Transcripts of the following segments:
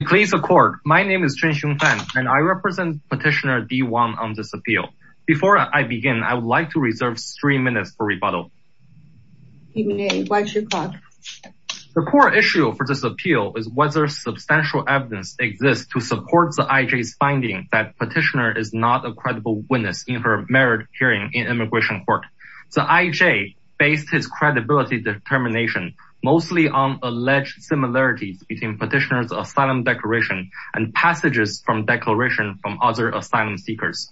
My name is Chen Xiongfan and I represent Petitioner D. Wang on this appeal. Before I begin, I would like to reserve three minutes for rebuttal. The core issue for this appeal is whether substantial evidence exists to support the IJ's finding that Petitioner is not a credible witness in her merit hearing in immigration court. The IJ based his credibility determination mostly on alleged similarities between Petitioner's and passages from declarations from other asylum seekers.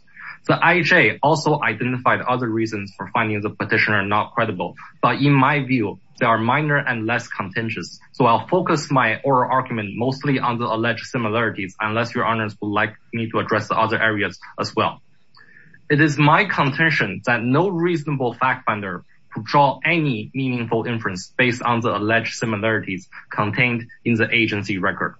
The IJ also identified other reasons for finding the Petitioner not credible, but in my view, they are minor and less contentious, so I'll focus my oral argument mostly on the alleged similarities unless your honors would like me to address the other areas as well. It is my contention that no reasonable fact finder could draw any meaningful inference based on the alleged similarities contained in the agency record.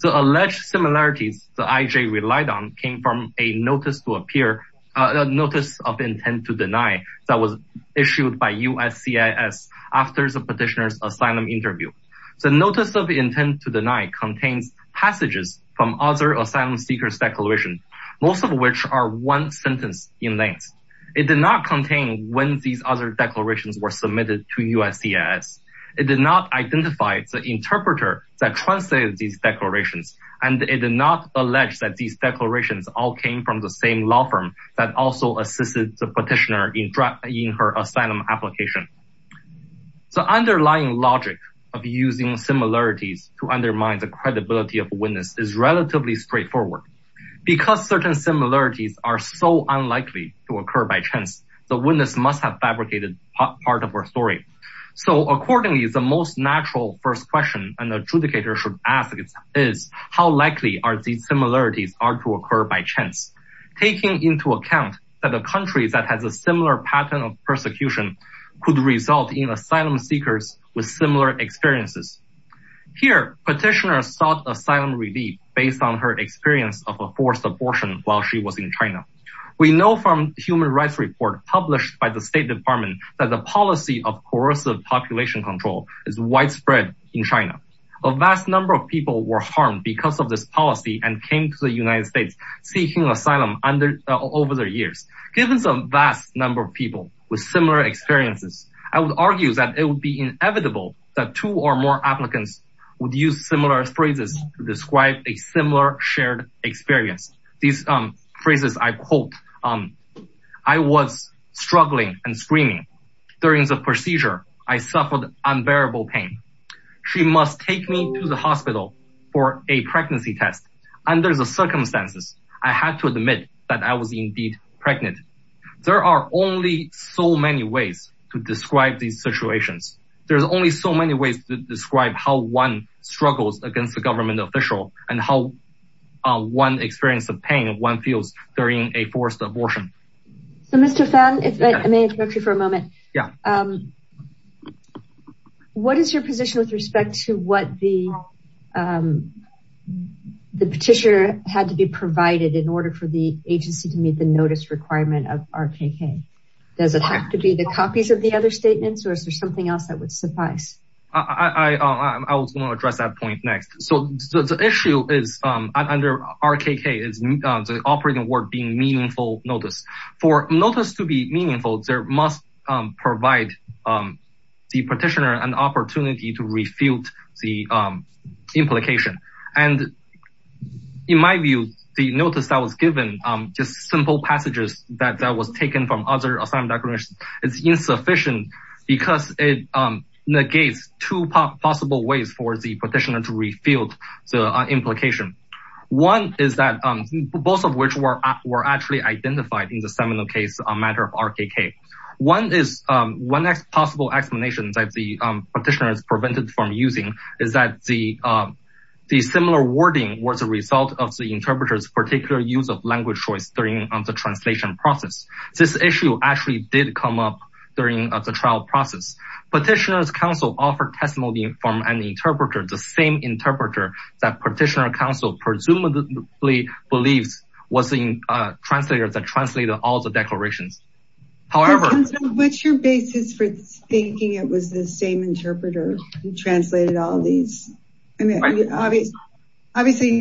The alleged similarities the IJ relied on came from a notice of intent to deny that was issued by USCIS after the Petitioner's asylum interview. The notice of intent to deny contains passages from other asylum seekers declarations, most of which are one sentence in length. It did not contain when these other declarations were submitted to USCIS. It did not identify the interpreter that translated these declarations, and it did not allege that these declarations all came from the same law firm that also assisted the Petitioner in her asylum application. The underlying logic of using similarities to undermine the credibility of a witness is relatively straightforward. Because certain similarities are so unlikely to occur by chance, the witness must have fabricated part of her story. So accordingly, the most natural first question an adjudicator should ask is how likely are these similarities are to occur by chance, taking into account that a country that has a similar pattern of persecution could result in asylum seekers with similar experiences. Here, Petitioner sought abortion while she was in China. We know from the Human Rights Report published by the State Department that the policy of coercive population control is widespread in China. A vast number of people were harmed because of this policy and came to the United States seeking asylum over their years. Given a vast number of people with similar experiences, I would argue that it would be inevitable that two or more applicants would use similar phrases to describe a similar shared experience. These phrases I quote, I was struggling and screaming. During the procedure, I suffered unbearable pain. She must take me to the hospital for a pregnancy test. Under the circumstances, I had to admit that I was indeed pregnant. There are only so many ways to describe these situations. There's only so many ways to describe how one struggles against a government official and how one experiences the pain one feels during a forced abortion. So Mr. Fan, if I may interrupt you for a moment. Yeah. What is your position with respect to what the Petitioner had to be provided in order for the agency to meet the notice requirement of RPK? Does it have to be the copies of the other statements or is there something else that would suffice? I was going to address that point next. So the issue is under RPK is the operating word being meaningful notice. For notice to be meaningful, there must provide the Petitioner an opportunity to refute the implication. And in my view, the notice that was given, just simple passages that was taken from other assignment documents is insufficient because it negates two possible ways for the Petitioner to refute the implication. One is that both of which were actually identified in the seminal case on matter of RPK. One possible explanation that the Petitioner is prevented from using is that the similar wording was a result of the interpreter's particular use of language choice during the translation process. This issue actually did come up during the trial process. Petitioner's counsel offered testimony from an interpreter, the same interpreter that Petitioner's counsel presumably believes was the translator that translated all the declarations. What's your basis for thinking it was the same interpreter who translated all these? Obviously,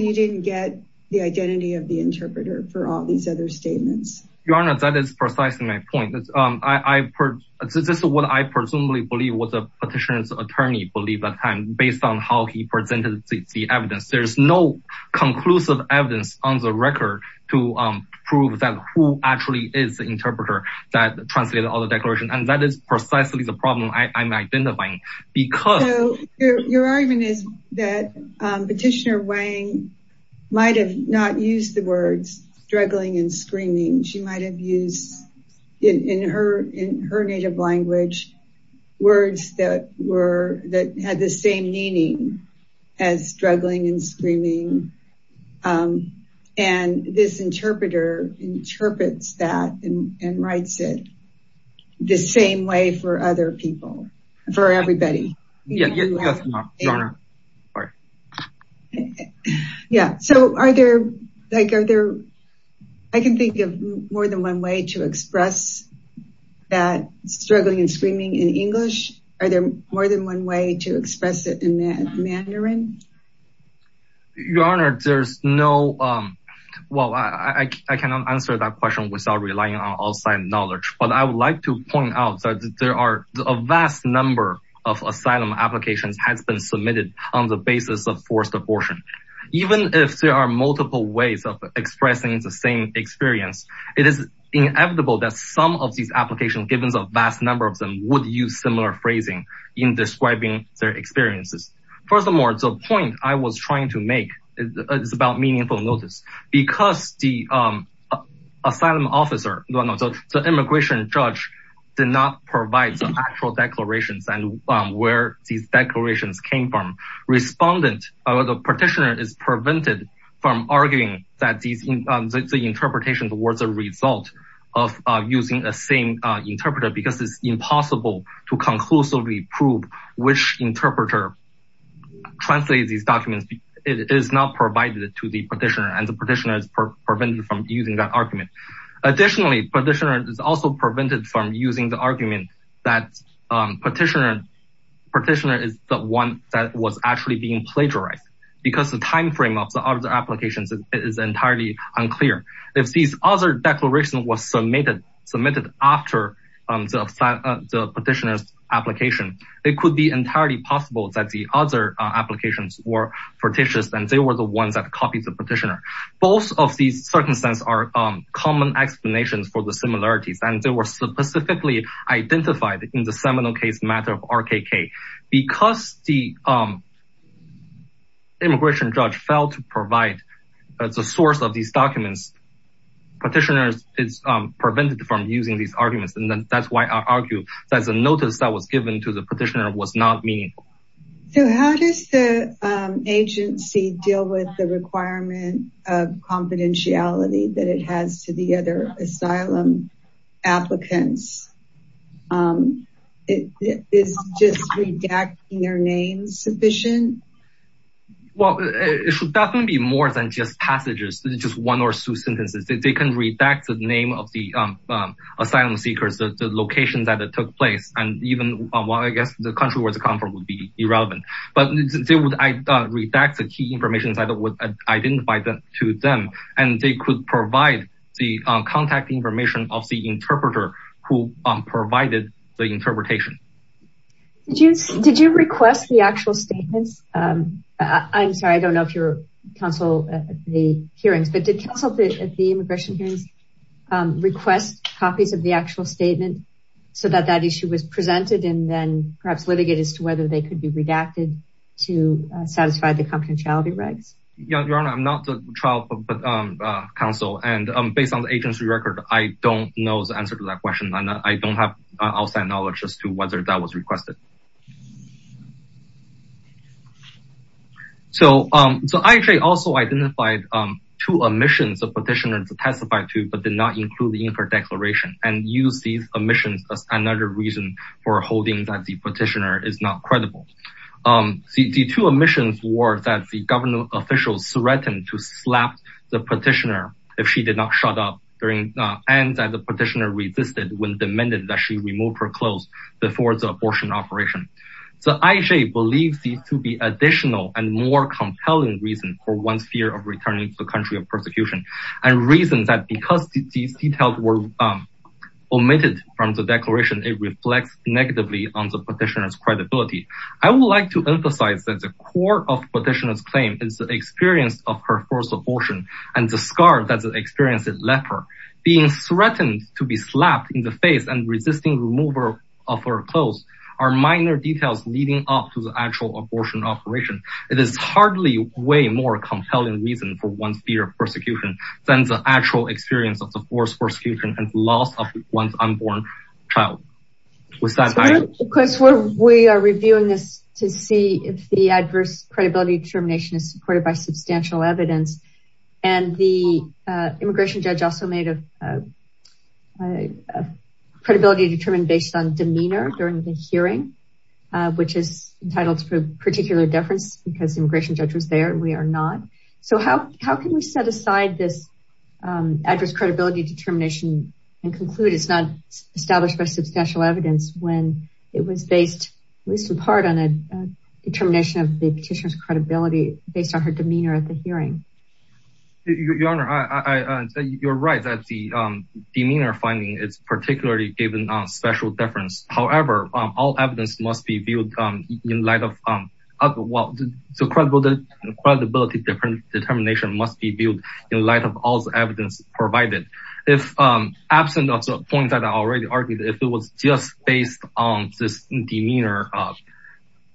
you didn't get the identity of the interpreter for all these other statements. Your Honor, that is precisely my point. This is what I presumably believe what the Petitioner's attorney believed at the time based on how he presented the evidence. There's no conclusive evidence on the record to prove that who actually is the interpreter that translated all the declarations. And that is precisely the problem I'm identifying. Your argument is that Petitioner might have not used the words struggling and screaming. She might have used in her native language words that had the same meaning as struggling and screaming. And this interpreter interprets that and writes it the same way for other people, for everybody. Yeah. So are there, like, are there, I can think of more than one way to express that struggling and screaming in English. Are there more than one way to express it in Mandarin? Your Honor, there's no, well, I cannot answer that question without relying on outside knowledge, but I would like to point out that there are a vast number of asylum applications that have been submitted on the basis of forced abortion. Even if there are multiple ways of expressing the same experience, it is inevitable that some of these applications, given the vast number of them, would use similar phrasing in describing their experiences. Furthermore, the point I was trying to make is about meaningful notice. Because the asylum came from respondents, the Petitioner is prevented from arguing that the interpretation was a result of using the same interpreter because it's impossible to conclusively prove which interpreter translates these documents. It is not provided to the Petitioner and the Petitioner is prevented from using that argument. Additionally, Petitioner is also prevented from using the argument that Petitioner is the one that was actually being plagiarized because the time frame of the other applications is entirely unclear. If these other declarations were submitted after the Petitioner's application, it could be entirely possible that the other applications were fictitious and they were the ones that copied the Petitioner. Both of these circumstances are common explanations for the similarities and they were specifically identified in the seminal case matter of RKK. Because the immigration judge failed to provide the source of these documents, Petitioner is prevented from using these arguments. That's why I argue that the notice that was given to the Petitioner was not meaningful. How does the agency deal with the requirement of confidentiality that it has to the other asylum applicants? Is just redacting their names sufficient? Well, it should definitely be more than just passages, just one or two sentences. They can redact the name of the asylum seekers, the location that it took place, and even the country where it comes from would be irrelevant. But they would redact the key information that was identified to them and they could provide the contact information of the interpreter who provided the interpretation. Did you request the actual statements? I'm sorry, I don't know if you're counsel at the hearings, but did counsel at the immigration hearings request copies of the actual statement so that that issue was presented and then perhaps litigated as to whether they could be redacted to satisfy the confidentiality regs? Yeah, Your Honor, I'm not the trial counsel and based on the agency record, I don't know the answer to that question. I don't have outside knowledge as to whether that was requested. So I actually also identified two omissions of Petitioner but did not include the Inker Declaration and used these omissions as another reason for holding that the petitioner is not credible. The two omissions were that the government officials threatened to slap the petitioner if she did not shut up and that the petitioner resisted when demanded that she remove her clothes before the abortion operation. So IJ believes these to be additional and more compelling reasons for one's fear of returning to the country of persecution and reasons that because these details were omitted from the declaration, it reflects negatively on the petitioner's credibility. I would like to emphasize that the core of the petitioner's claim is the experience of her first abortion and the scar that the experience left her. Being threatened to be slapped in the face and resisting removal of her clothes are minor leading up to the actual abortion operation. It is hardly way more compelling reason for one's fear of persecution than the actual experience of the forced persecution and loss of one's unborn child. We are reviewing this to see if the adverse credibility determination is supported by substantial evidence and the immigration judge also made a credibility determined based on demeanor during the hearing which is entitled to a particular deference because the immigration judge was there and we are not. So how can we set aside this adverse credibility determination and conclude it's not established by substantial evidence when it was based at least in part on a determination of the petitioner's credibility based on her demeanor finding it's particularly given on special deference. However, all evidence must be viewed in light of the credibility determination must be viewed in light of all the evidence provided. If absent of the point that I already argued, if it was just based on this demeanor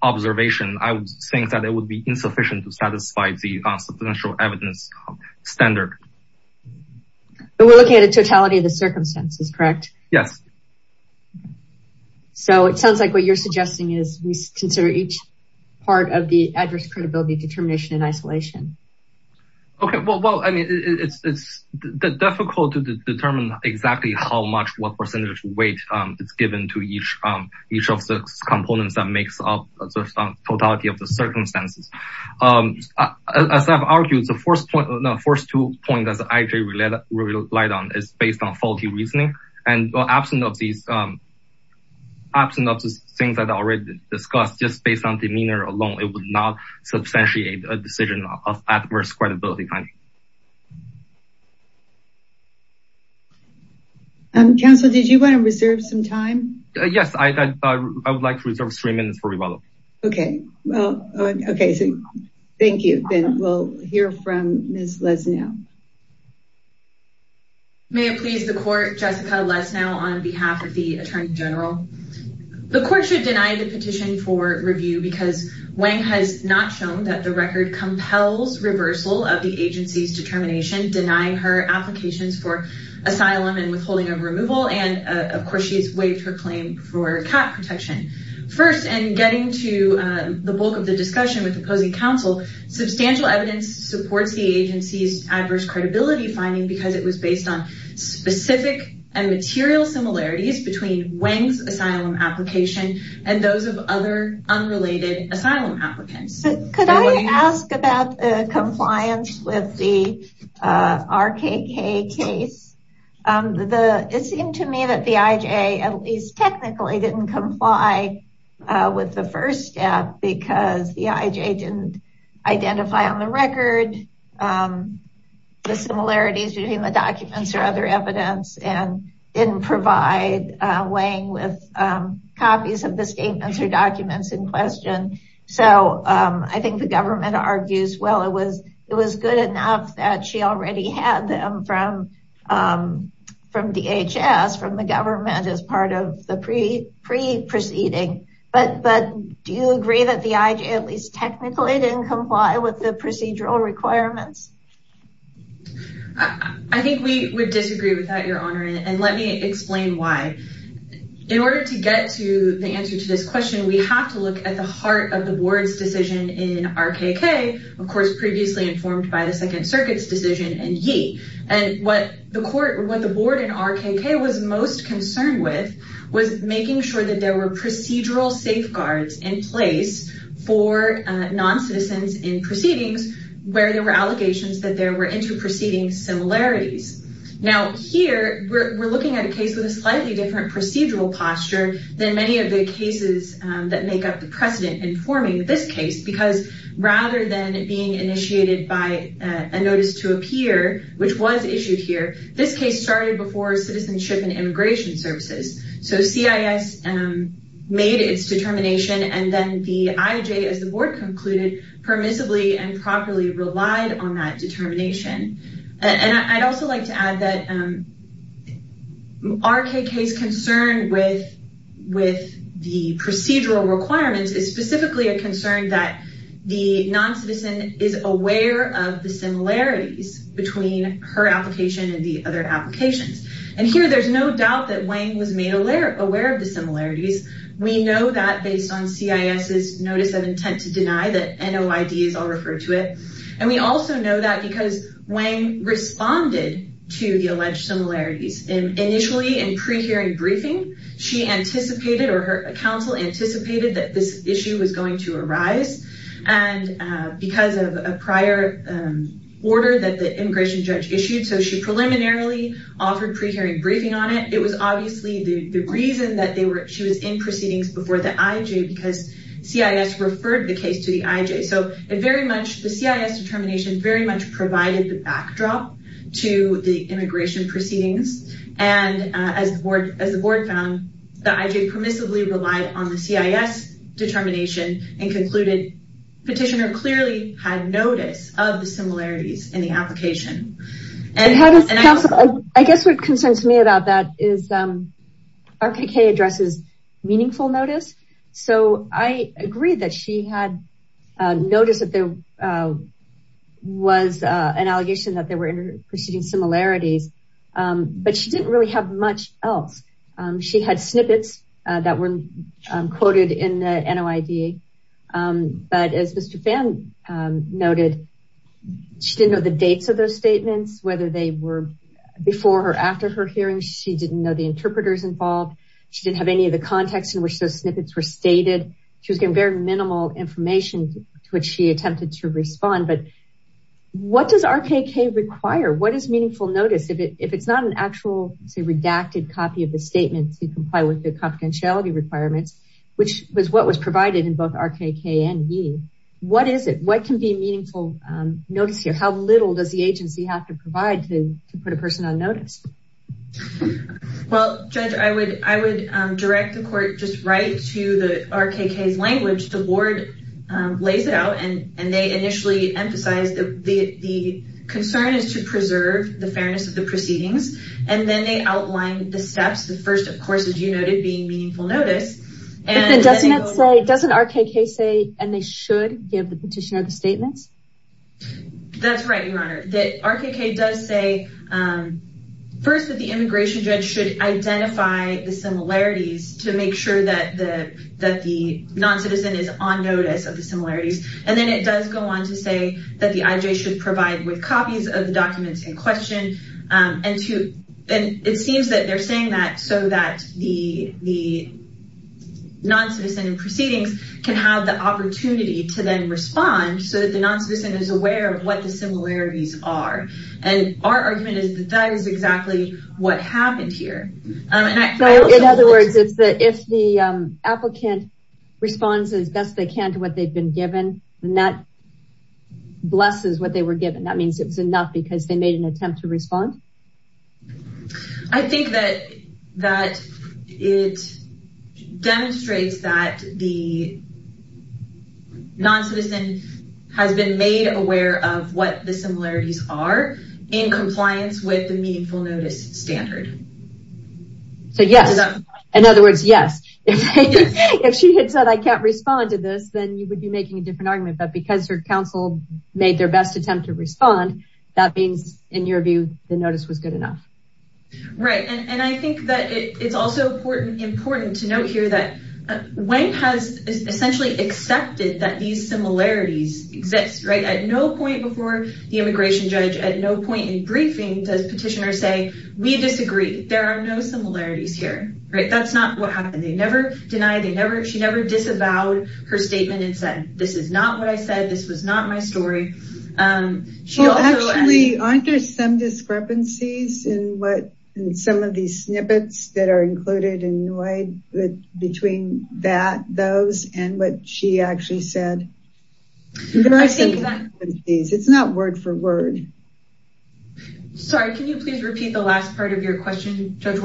observation, I would think that it would be insufficient to satisfy the substantial evidence standard. But we're looking at a totality of the circumstances, correct? Yes. So it sounds like what you're suggesting is we consider each part of the adverse credibility determination in isolation. Okay, well, I mean, it's difficult to determine exactly how much what percentage weight is given to each of the components that makes up totality of the circumstances. As I've argued, the first point, the first two points that I actually relied on is based on faulty reasoning. And absent of these, absent of the things that I already discussed, just based on demeanor alone, it would not substantiate a decision of adverse credibility finding. Counselor, did you want to reserve some time? Yes, I would like to reserve three minutes for Okay, well, okay. Thank you. Then we'll hear from Ms. Lesnow. May it please the court, Jessica Lesnow on behalf of the Attorney General. The court should deny the petition for review because Wang has not shown that the record compels reversal of the agency's determination denying her applications for asylum and withholding removal. And of course, she's waived her claim for cat protection. First, and getting to the bulk of the discussion with the opposing counsel, substantial evidence supports the agency's adverse credibility finding because it was based on specific and material similarities between Wang's asylum application and those of other unrelated asylum applicants. Could I ask about the compliance with the RKK case? It seemed to me that the IJ at least technically didn't comply with the first step because the IJ didn't identify on the record the similarities between the documents or other evidence and didn't provide Wang with copies of statements or documents in question. So I think the government argues, well, it was good enough that she already had them from DHS, from the government as part of the pre-proceeding. But do you agree that the IJ at least technically didn't comply with the procedural requirements? I think we would disagree with that, Your Honor, and let me explain why. In order to get to the answer to this question, we have to look at the heart of the board's decision in RKK, of course, previously informed by the Second Circuit's decision in Yi. And what the board in RKK was most concerned with was making sure that there were procedural safeguards in place for non-citizens in proceedings where there were allegations that there were inter-proceeding similarities. Now, here, we're looking at a case with a slightly different procedural posture than many of the cases that make up the precedent informing this case because rather than being initiated by a notice to appear, which was issued here, this case started before Citizenship and Immigration Services. So CIS made its determination and then the IJ, as the board concluded, permissibly and properly relied on that determination. And I'd also like to add that RKK's concern with the procedural requirements is specifically a concern that the non-citizen is aware of the similarities between her application and the other applications. And here, there's no doubt that Wang was made aware of the similarities. We know that based on CIS's notice of intent to deny that NOID is all referred to it. And we also know that because Wang responded to the alleged similarities initially in pre-hearing briefing, she anticipated or her counsel anticipated that this issue was going to arise. And because of a prior order that the immigration judge issued, so she preliminarily offered pre-hearing briefing on it. It was obviously the reason that she was in proceedings before the IJ because CIS referred the case to the IJ. So the CIS determination very much provided the backdrop to the immigration proceedings. And as the board found, the IJ permissibly relied on the CIS determination and concluded petitioner clearly had notice of the similarities in the application. And how does counsel, I guess what concerns me about that is RKK addresses meaningful notice. So I agree that she had noticed that there was an allegation that they were in proceeding similarities, but she didn't really have much else. She had snippets that were quoted in the NOID. But as Mr. Pham noted, she didn't know the dates of those statements, whether they were before or after her hearing. She didn't know the interpreters involved. She didn't have any context in which those snippets were stated. She was getting very minimal information to which she attempted to respond. But what does RKK require? What is meaningful notice? If it's not an actual, say, redacted copy of the statement to comply with the confidentiality requirements, which was what was provided in both RKK and Yee, what is it? What can be meaningful notice here? How little does the agency have to provide to put a person on notice? Well, Judge, I would direct the court just right to the RKK's language. The board lays it out and they initially emphasize that the concern is to preserve the fairness of the proceedings. And then they outline the steps. The first, of course, as you noted, being meaningful notice. And doesn't RKK say, and they should give the petitioner the statements? That's right, Your Honor. RKK does say first that the immigration judge should identify the similarities to make sure that the non-citizen is on notice of the similarities. And then it does go on to say that the IJ should provide with copies of the documents in question. And it seems that they're saying that so that the non-citizen in proceedings can have the opportunity to then respond so that the non-citizen is aware of what the similarities are. And our argument is that that is exactly what happened here. In other words, if the applicant responds as best they can to what they've been given, then that blesses what they were given. That means it was enough because they made an attempt to respond. I think that it demonstrates that the non-citizen has been made aware of what the similarities are in compliance with the meaningful notice standard. So, yes. In other words, yes. If she had said, I can't respond to this, then you would be making a different argument. But in your view, the notice was good enough. Right. And I think that it's also important to note here that Weng has essentially accepted that these similarities exist. At no point before the immigration judge, at no point in briefing, does petitioner say, we disagree. There are no similarities here. That's not what happened. They never denied. She never disavowed her statement that this is not what I said. This was not my story. Actually, aren't there some discrepancies in some of these snippets that are included in between those and what she actually said? It's not word for word. Sorry, can you please repeat the last part of your question, Judge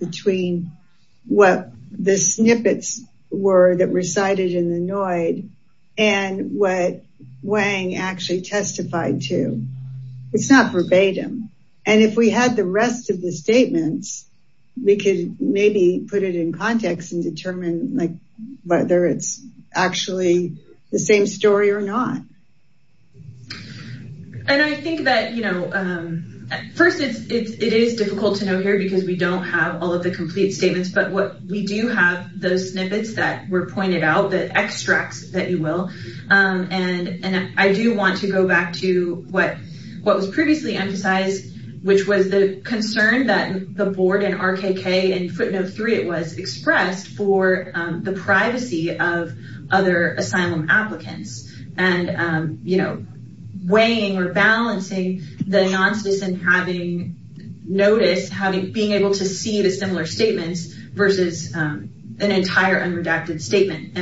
between what the snippets were that were cited in the NOID and what Weng actually testified to? It's not verbatim. And if we had the rest of the statements, we could maybe put it in context and determine whether it's actually the same story or not. And I think that, you know, first, it is difficult to know here because we don't have all of the complete statements. But we do have those snippets that were pointed out, the extracts, that you will. And I do want to go back to what was previously emphasized, which was the concern that the board and RKK and Footnote 3, it was expressed for the privacy of other asylum applicants. And you know, weighing or balancing the nonsense and having noticed, being able to see the similar statements versus an entire unredacted statement.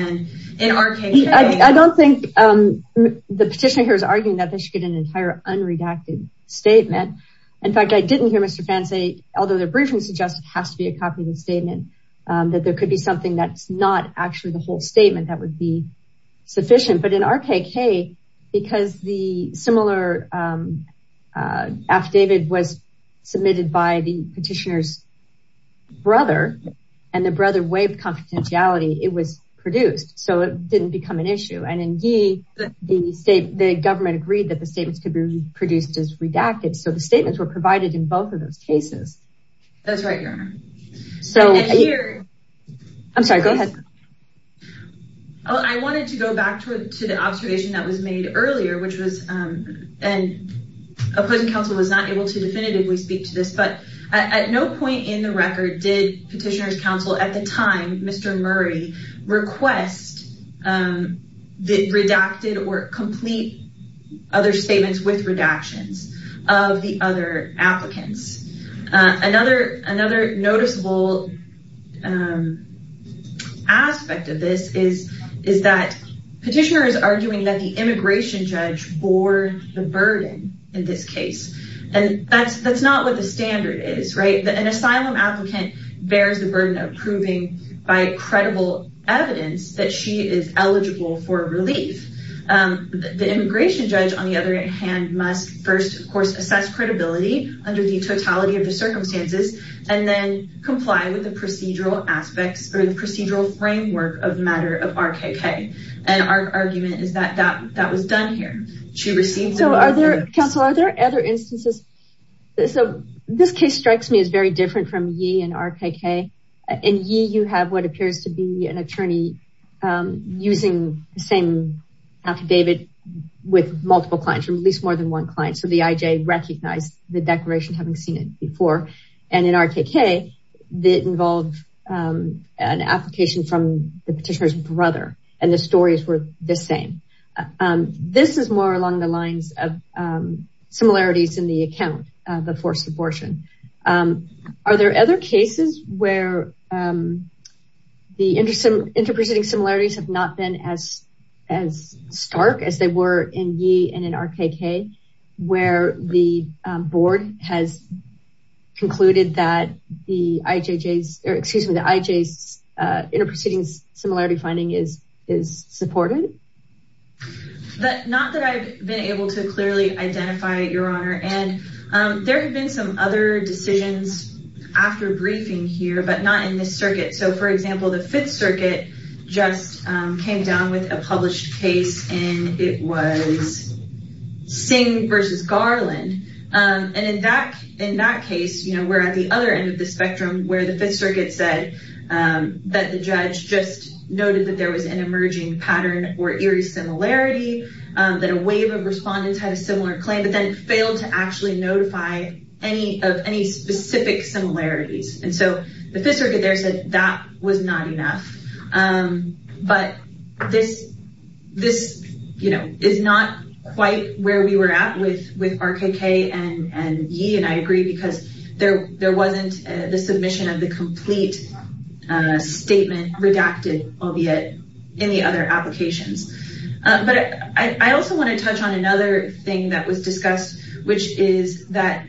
I don't think the petitioner here is arguing that they should get an entire unredacted statement. In fact, I didn't hear Mr. Phan say, although the briefing suggests it has to be a copy of the statement, that there could be something that's actually the whole statement that would be sufficient. But in RKK, because the similar affidavit was submitted by the petitioner's brother, and the brother waived confidentiality, it was produced. So it didn't become an issue. And in Yee, the government agreed that the statements could be produced as redacted. So the statements were provided in both of those cases. That's right, Your Honor. I'm sorry, go ahead. I wanted to go back to the observation that was made earlier, which was, and opposing counsel was not able to definitively speak to this, but at no point in the record did petitioner's counsel at the time, Mr. Murray, request the redacted or complete other statements with redactions of the other applicants. Another noticeable aspect of this is that petitioner is arguing that the immigration judge bore the burden in this case. And that's not what the standard is, right? An asylum applicant bears the burden of proving by credible evidence that she is eligible for relief. The immigration judge, on the other hand, must first, of course, assess credibility under the totality of the circumstances, and then comply with the procedural aspects or the procedural framework of the matter of RKK. And our argument is that that was done here. So are there, counsel, are there other instances? So this case strikes me as very different from Yee and RKK. In Yee, you have what appears to be an attorney using the same affidavit with multiple clients, or at least more than one client. So the IJ recognized the declaration, having seen it before. And in RKK, it involved an application from the petitioner's brother, and the stories were the same. This is more along the lines of the forced abortion. Are there other cases where the interproceding similarities have not been as stark as they were in Yee and in RKK, where the board has concluded that the IJ's interproceeding similarity finding is supported? Not that I've been able to clearly identify, Your Honor. And there have been some other decisions after briefing here, but not in this circuit. So for example, the Fifth Circuit just came down with a published case, and it was Singh versus Garland. And in that case, we're at the other end of the spectrum, where the Fifth Circuit said that the judge just noted that there was an emerging pattern or eerie similarity, that a wave of respondents had a similar claim, but then failed to actually notify of any specific similarities. And so the Fifth Circuit there said that was not enough. But this is not quite where we were at with RKK and Yee, and I agree, because there wasn't the submission of the complete statement redacted, albeit in the other applications. But I also want to touch on another thing that was discussed, which is that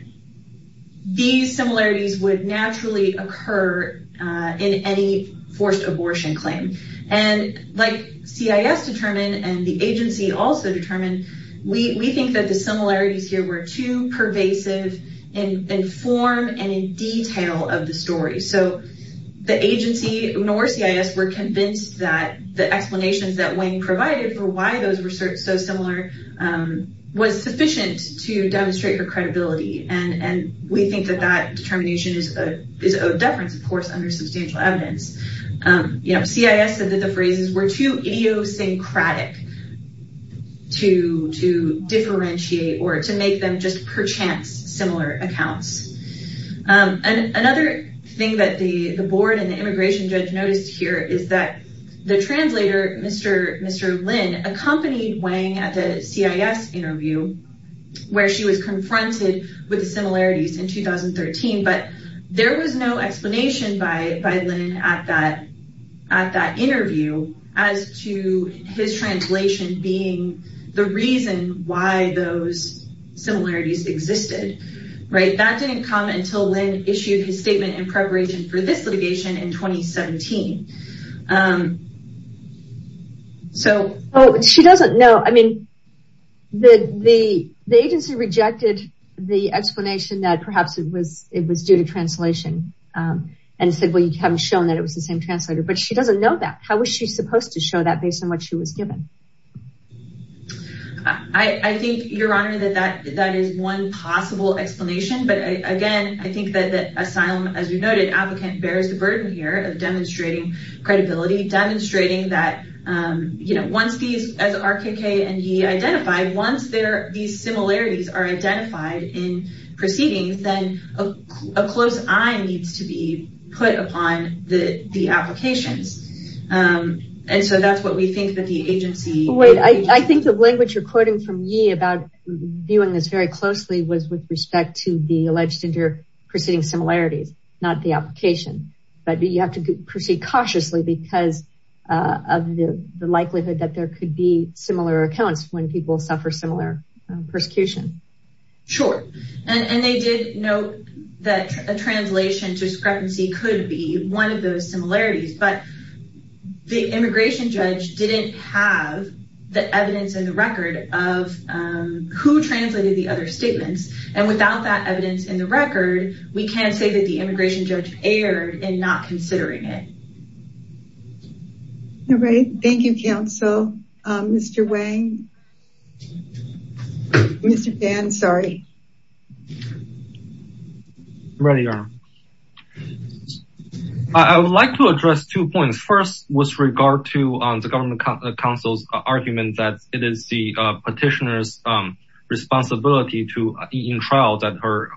these similarities would naturally occur in any forced abortion claim. And like CIS determined, and the agency also determined, we think that the similarities here were too pervasive in form and in detail of the story. So the agency, nor CIS, were convinced that the explanations that Wayne provided for why those were so similar was sufficient to demonstrate your credibility. And we think that that determination is of deference, of course, under substantial evidence. CIS said that the phrases were too idiosyncratic to differentiate or to make them just perchance similar accounts. And another thing that the board and the immigration judge noticed here is that the translator, Mr. Lin, accompanied Wang at the CIS interview, where she was confronted with the similarities in 2013, but there was no explanation by Lin at that interview as to his translation being the reason why those similarities existed. That didn't come until Lin issued his statement in preparation for this litigation in 2017. Oh, she doesn't know. I mean, the agency rejected the explanation that perhaps it was due to translation and said, well, you haven't shown that it was the same translator, but she doesn't know that. How was she supposed to show that based on what she was given? I think, Your Honor, that that is one possible explanation. But again, I think that asylum, as you noted, applicant bears the burden here of demonstrating credibility, demonstrating that once these, as RKK and Yee identified, once these similarities are identified in proceedings, then a close eye needs to be put upon the applications. And so that's what we think that the agency... Wait, I think the language you're quoting from Yee about viewing this very closely was with not the application, but you have to proceed cautiously because of the likelihood that there could be similar accounts when people suffer similar persecution. Sure. And they did note that a translation discrepancy could be one of those similarities, but the immigration judge didn't have the evidence in the record of who translated the other We can't say that the immigration judge erred in not considering it. All right. Thank you, counsel. Mr. Wang. Mr. Dan, sorry. Ready, Your Honor. I would like to address two points. First, with regard to the government counsel's argument that it is the petitioner's responsibility in trial that her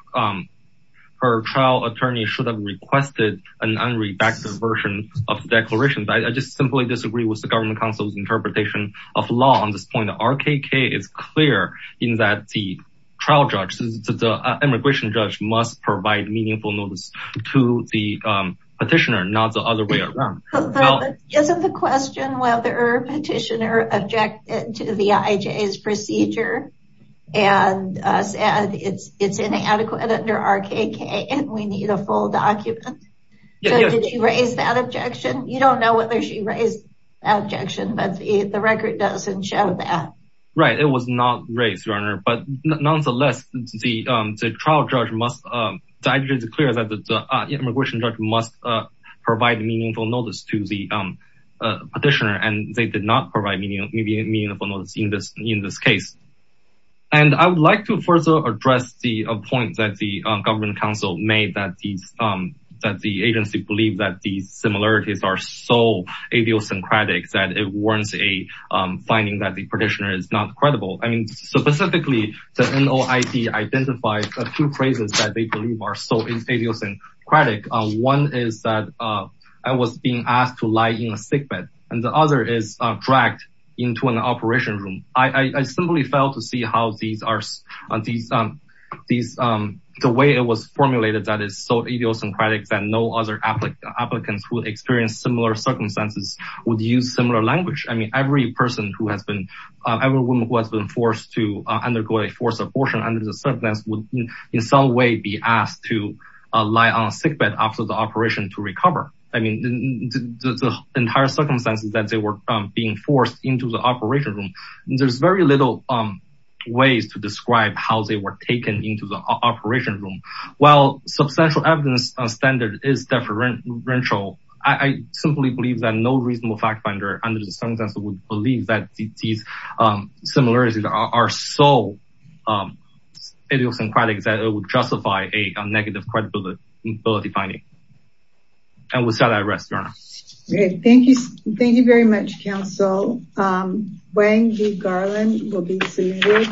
trial attorney should have requested an unredacted version of the declaration. I just simply disagree with the government counsel's interpretation of law on this point. RKK is clear in that the trial judge, the immigration judge must provide meaningful notice to the petitioner, not the other way around. But isn't the question whether the petitioner objected to the IJ's procedure and said it's inadequate under RKK and we need a full document? Did she raise that objection? You don't know whether she raised that objection, but the record doesn't show that. Right. It was not raised, Your Honor. But nonetheless, the trial judge must, the IJ is clear that the immigration judge must provide meaningful notice to the petitioner and they did not provide meaningful notice in this case. And I would like to further address the point that the government counsel made that the agency believed that these similarities are so idiosyncratic that it warrants a finding that the petitioner is not credible. I mean, specifically, the NOIC identified a few phrases that they believe are so idiosyncratic. One is that I was being asked to lie in a sickbed and the other is dragged into an operation room. I simply failed to see how these are, the way it was formulated that is so idiosyncratic that no other applicants would experience similar circumstances, would use similar language. I was being forced to undergo a forced abortion under the circumstance would in some way be asked to lie on a sickbed after the operation to recover. I mean, the entire circumstances that they were being forced into the operation room, there's very little ways to describe how they were taken into the operation room. While substantial evidence on standard is deferential, I simply believe that no reasonable fact finder under the circumstances would believe that these similarities are so idiosyncratic that it would justify a negative credibility finding. And with that, I rest, Your Honor. Okay, thank you. Thank you very much, counsel. Wang V. Garland will be submitted.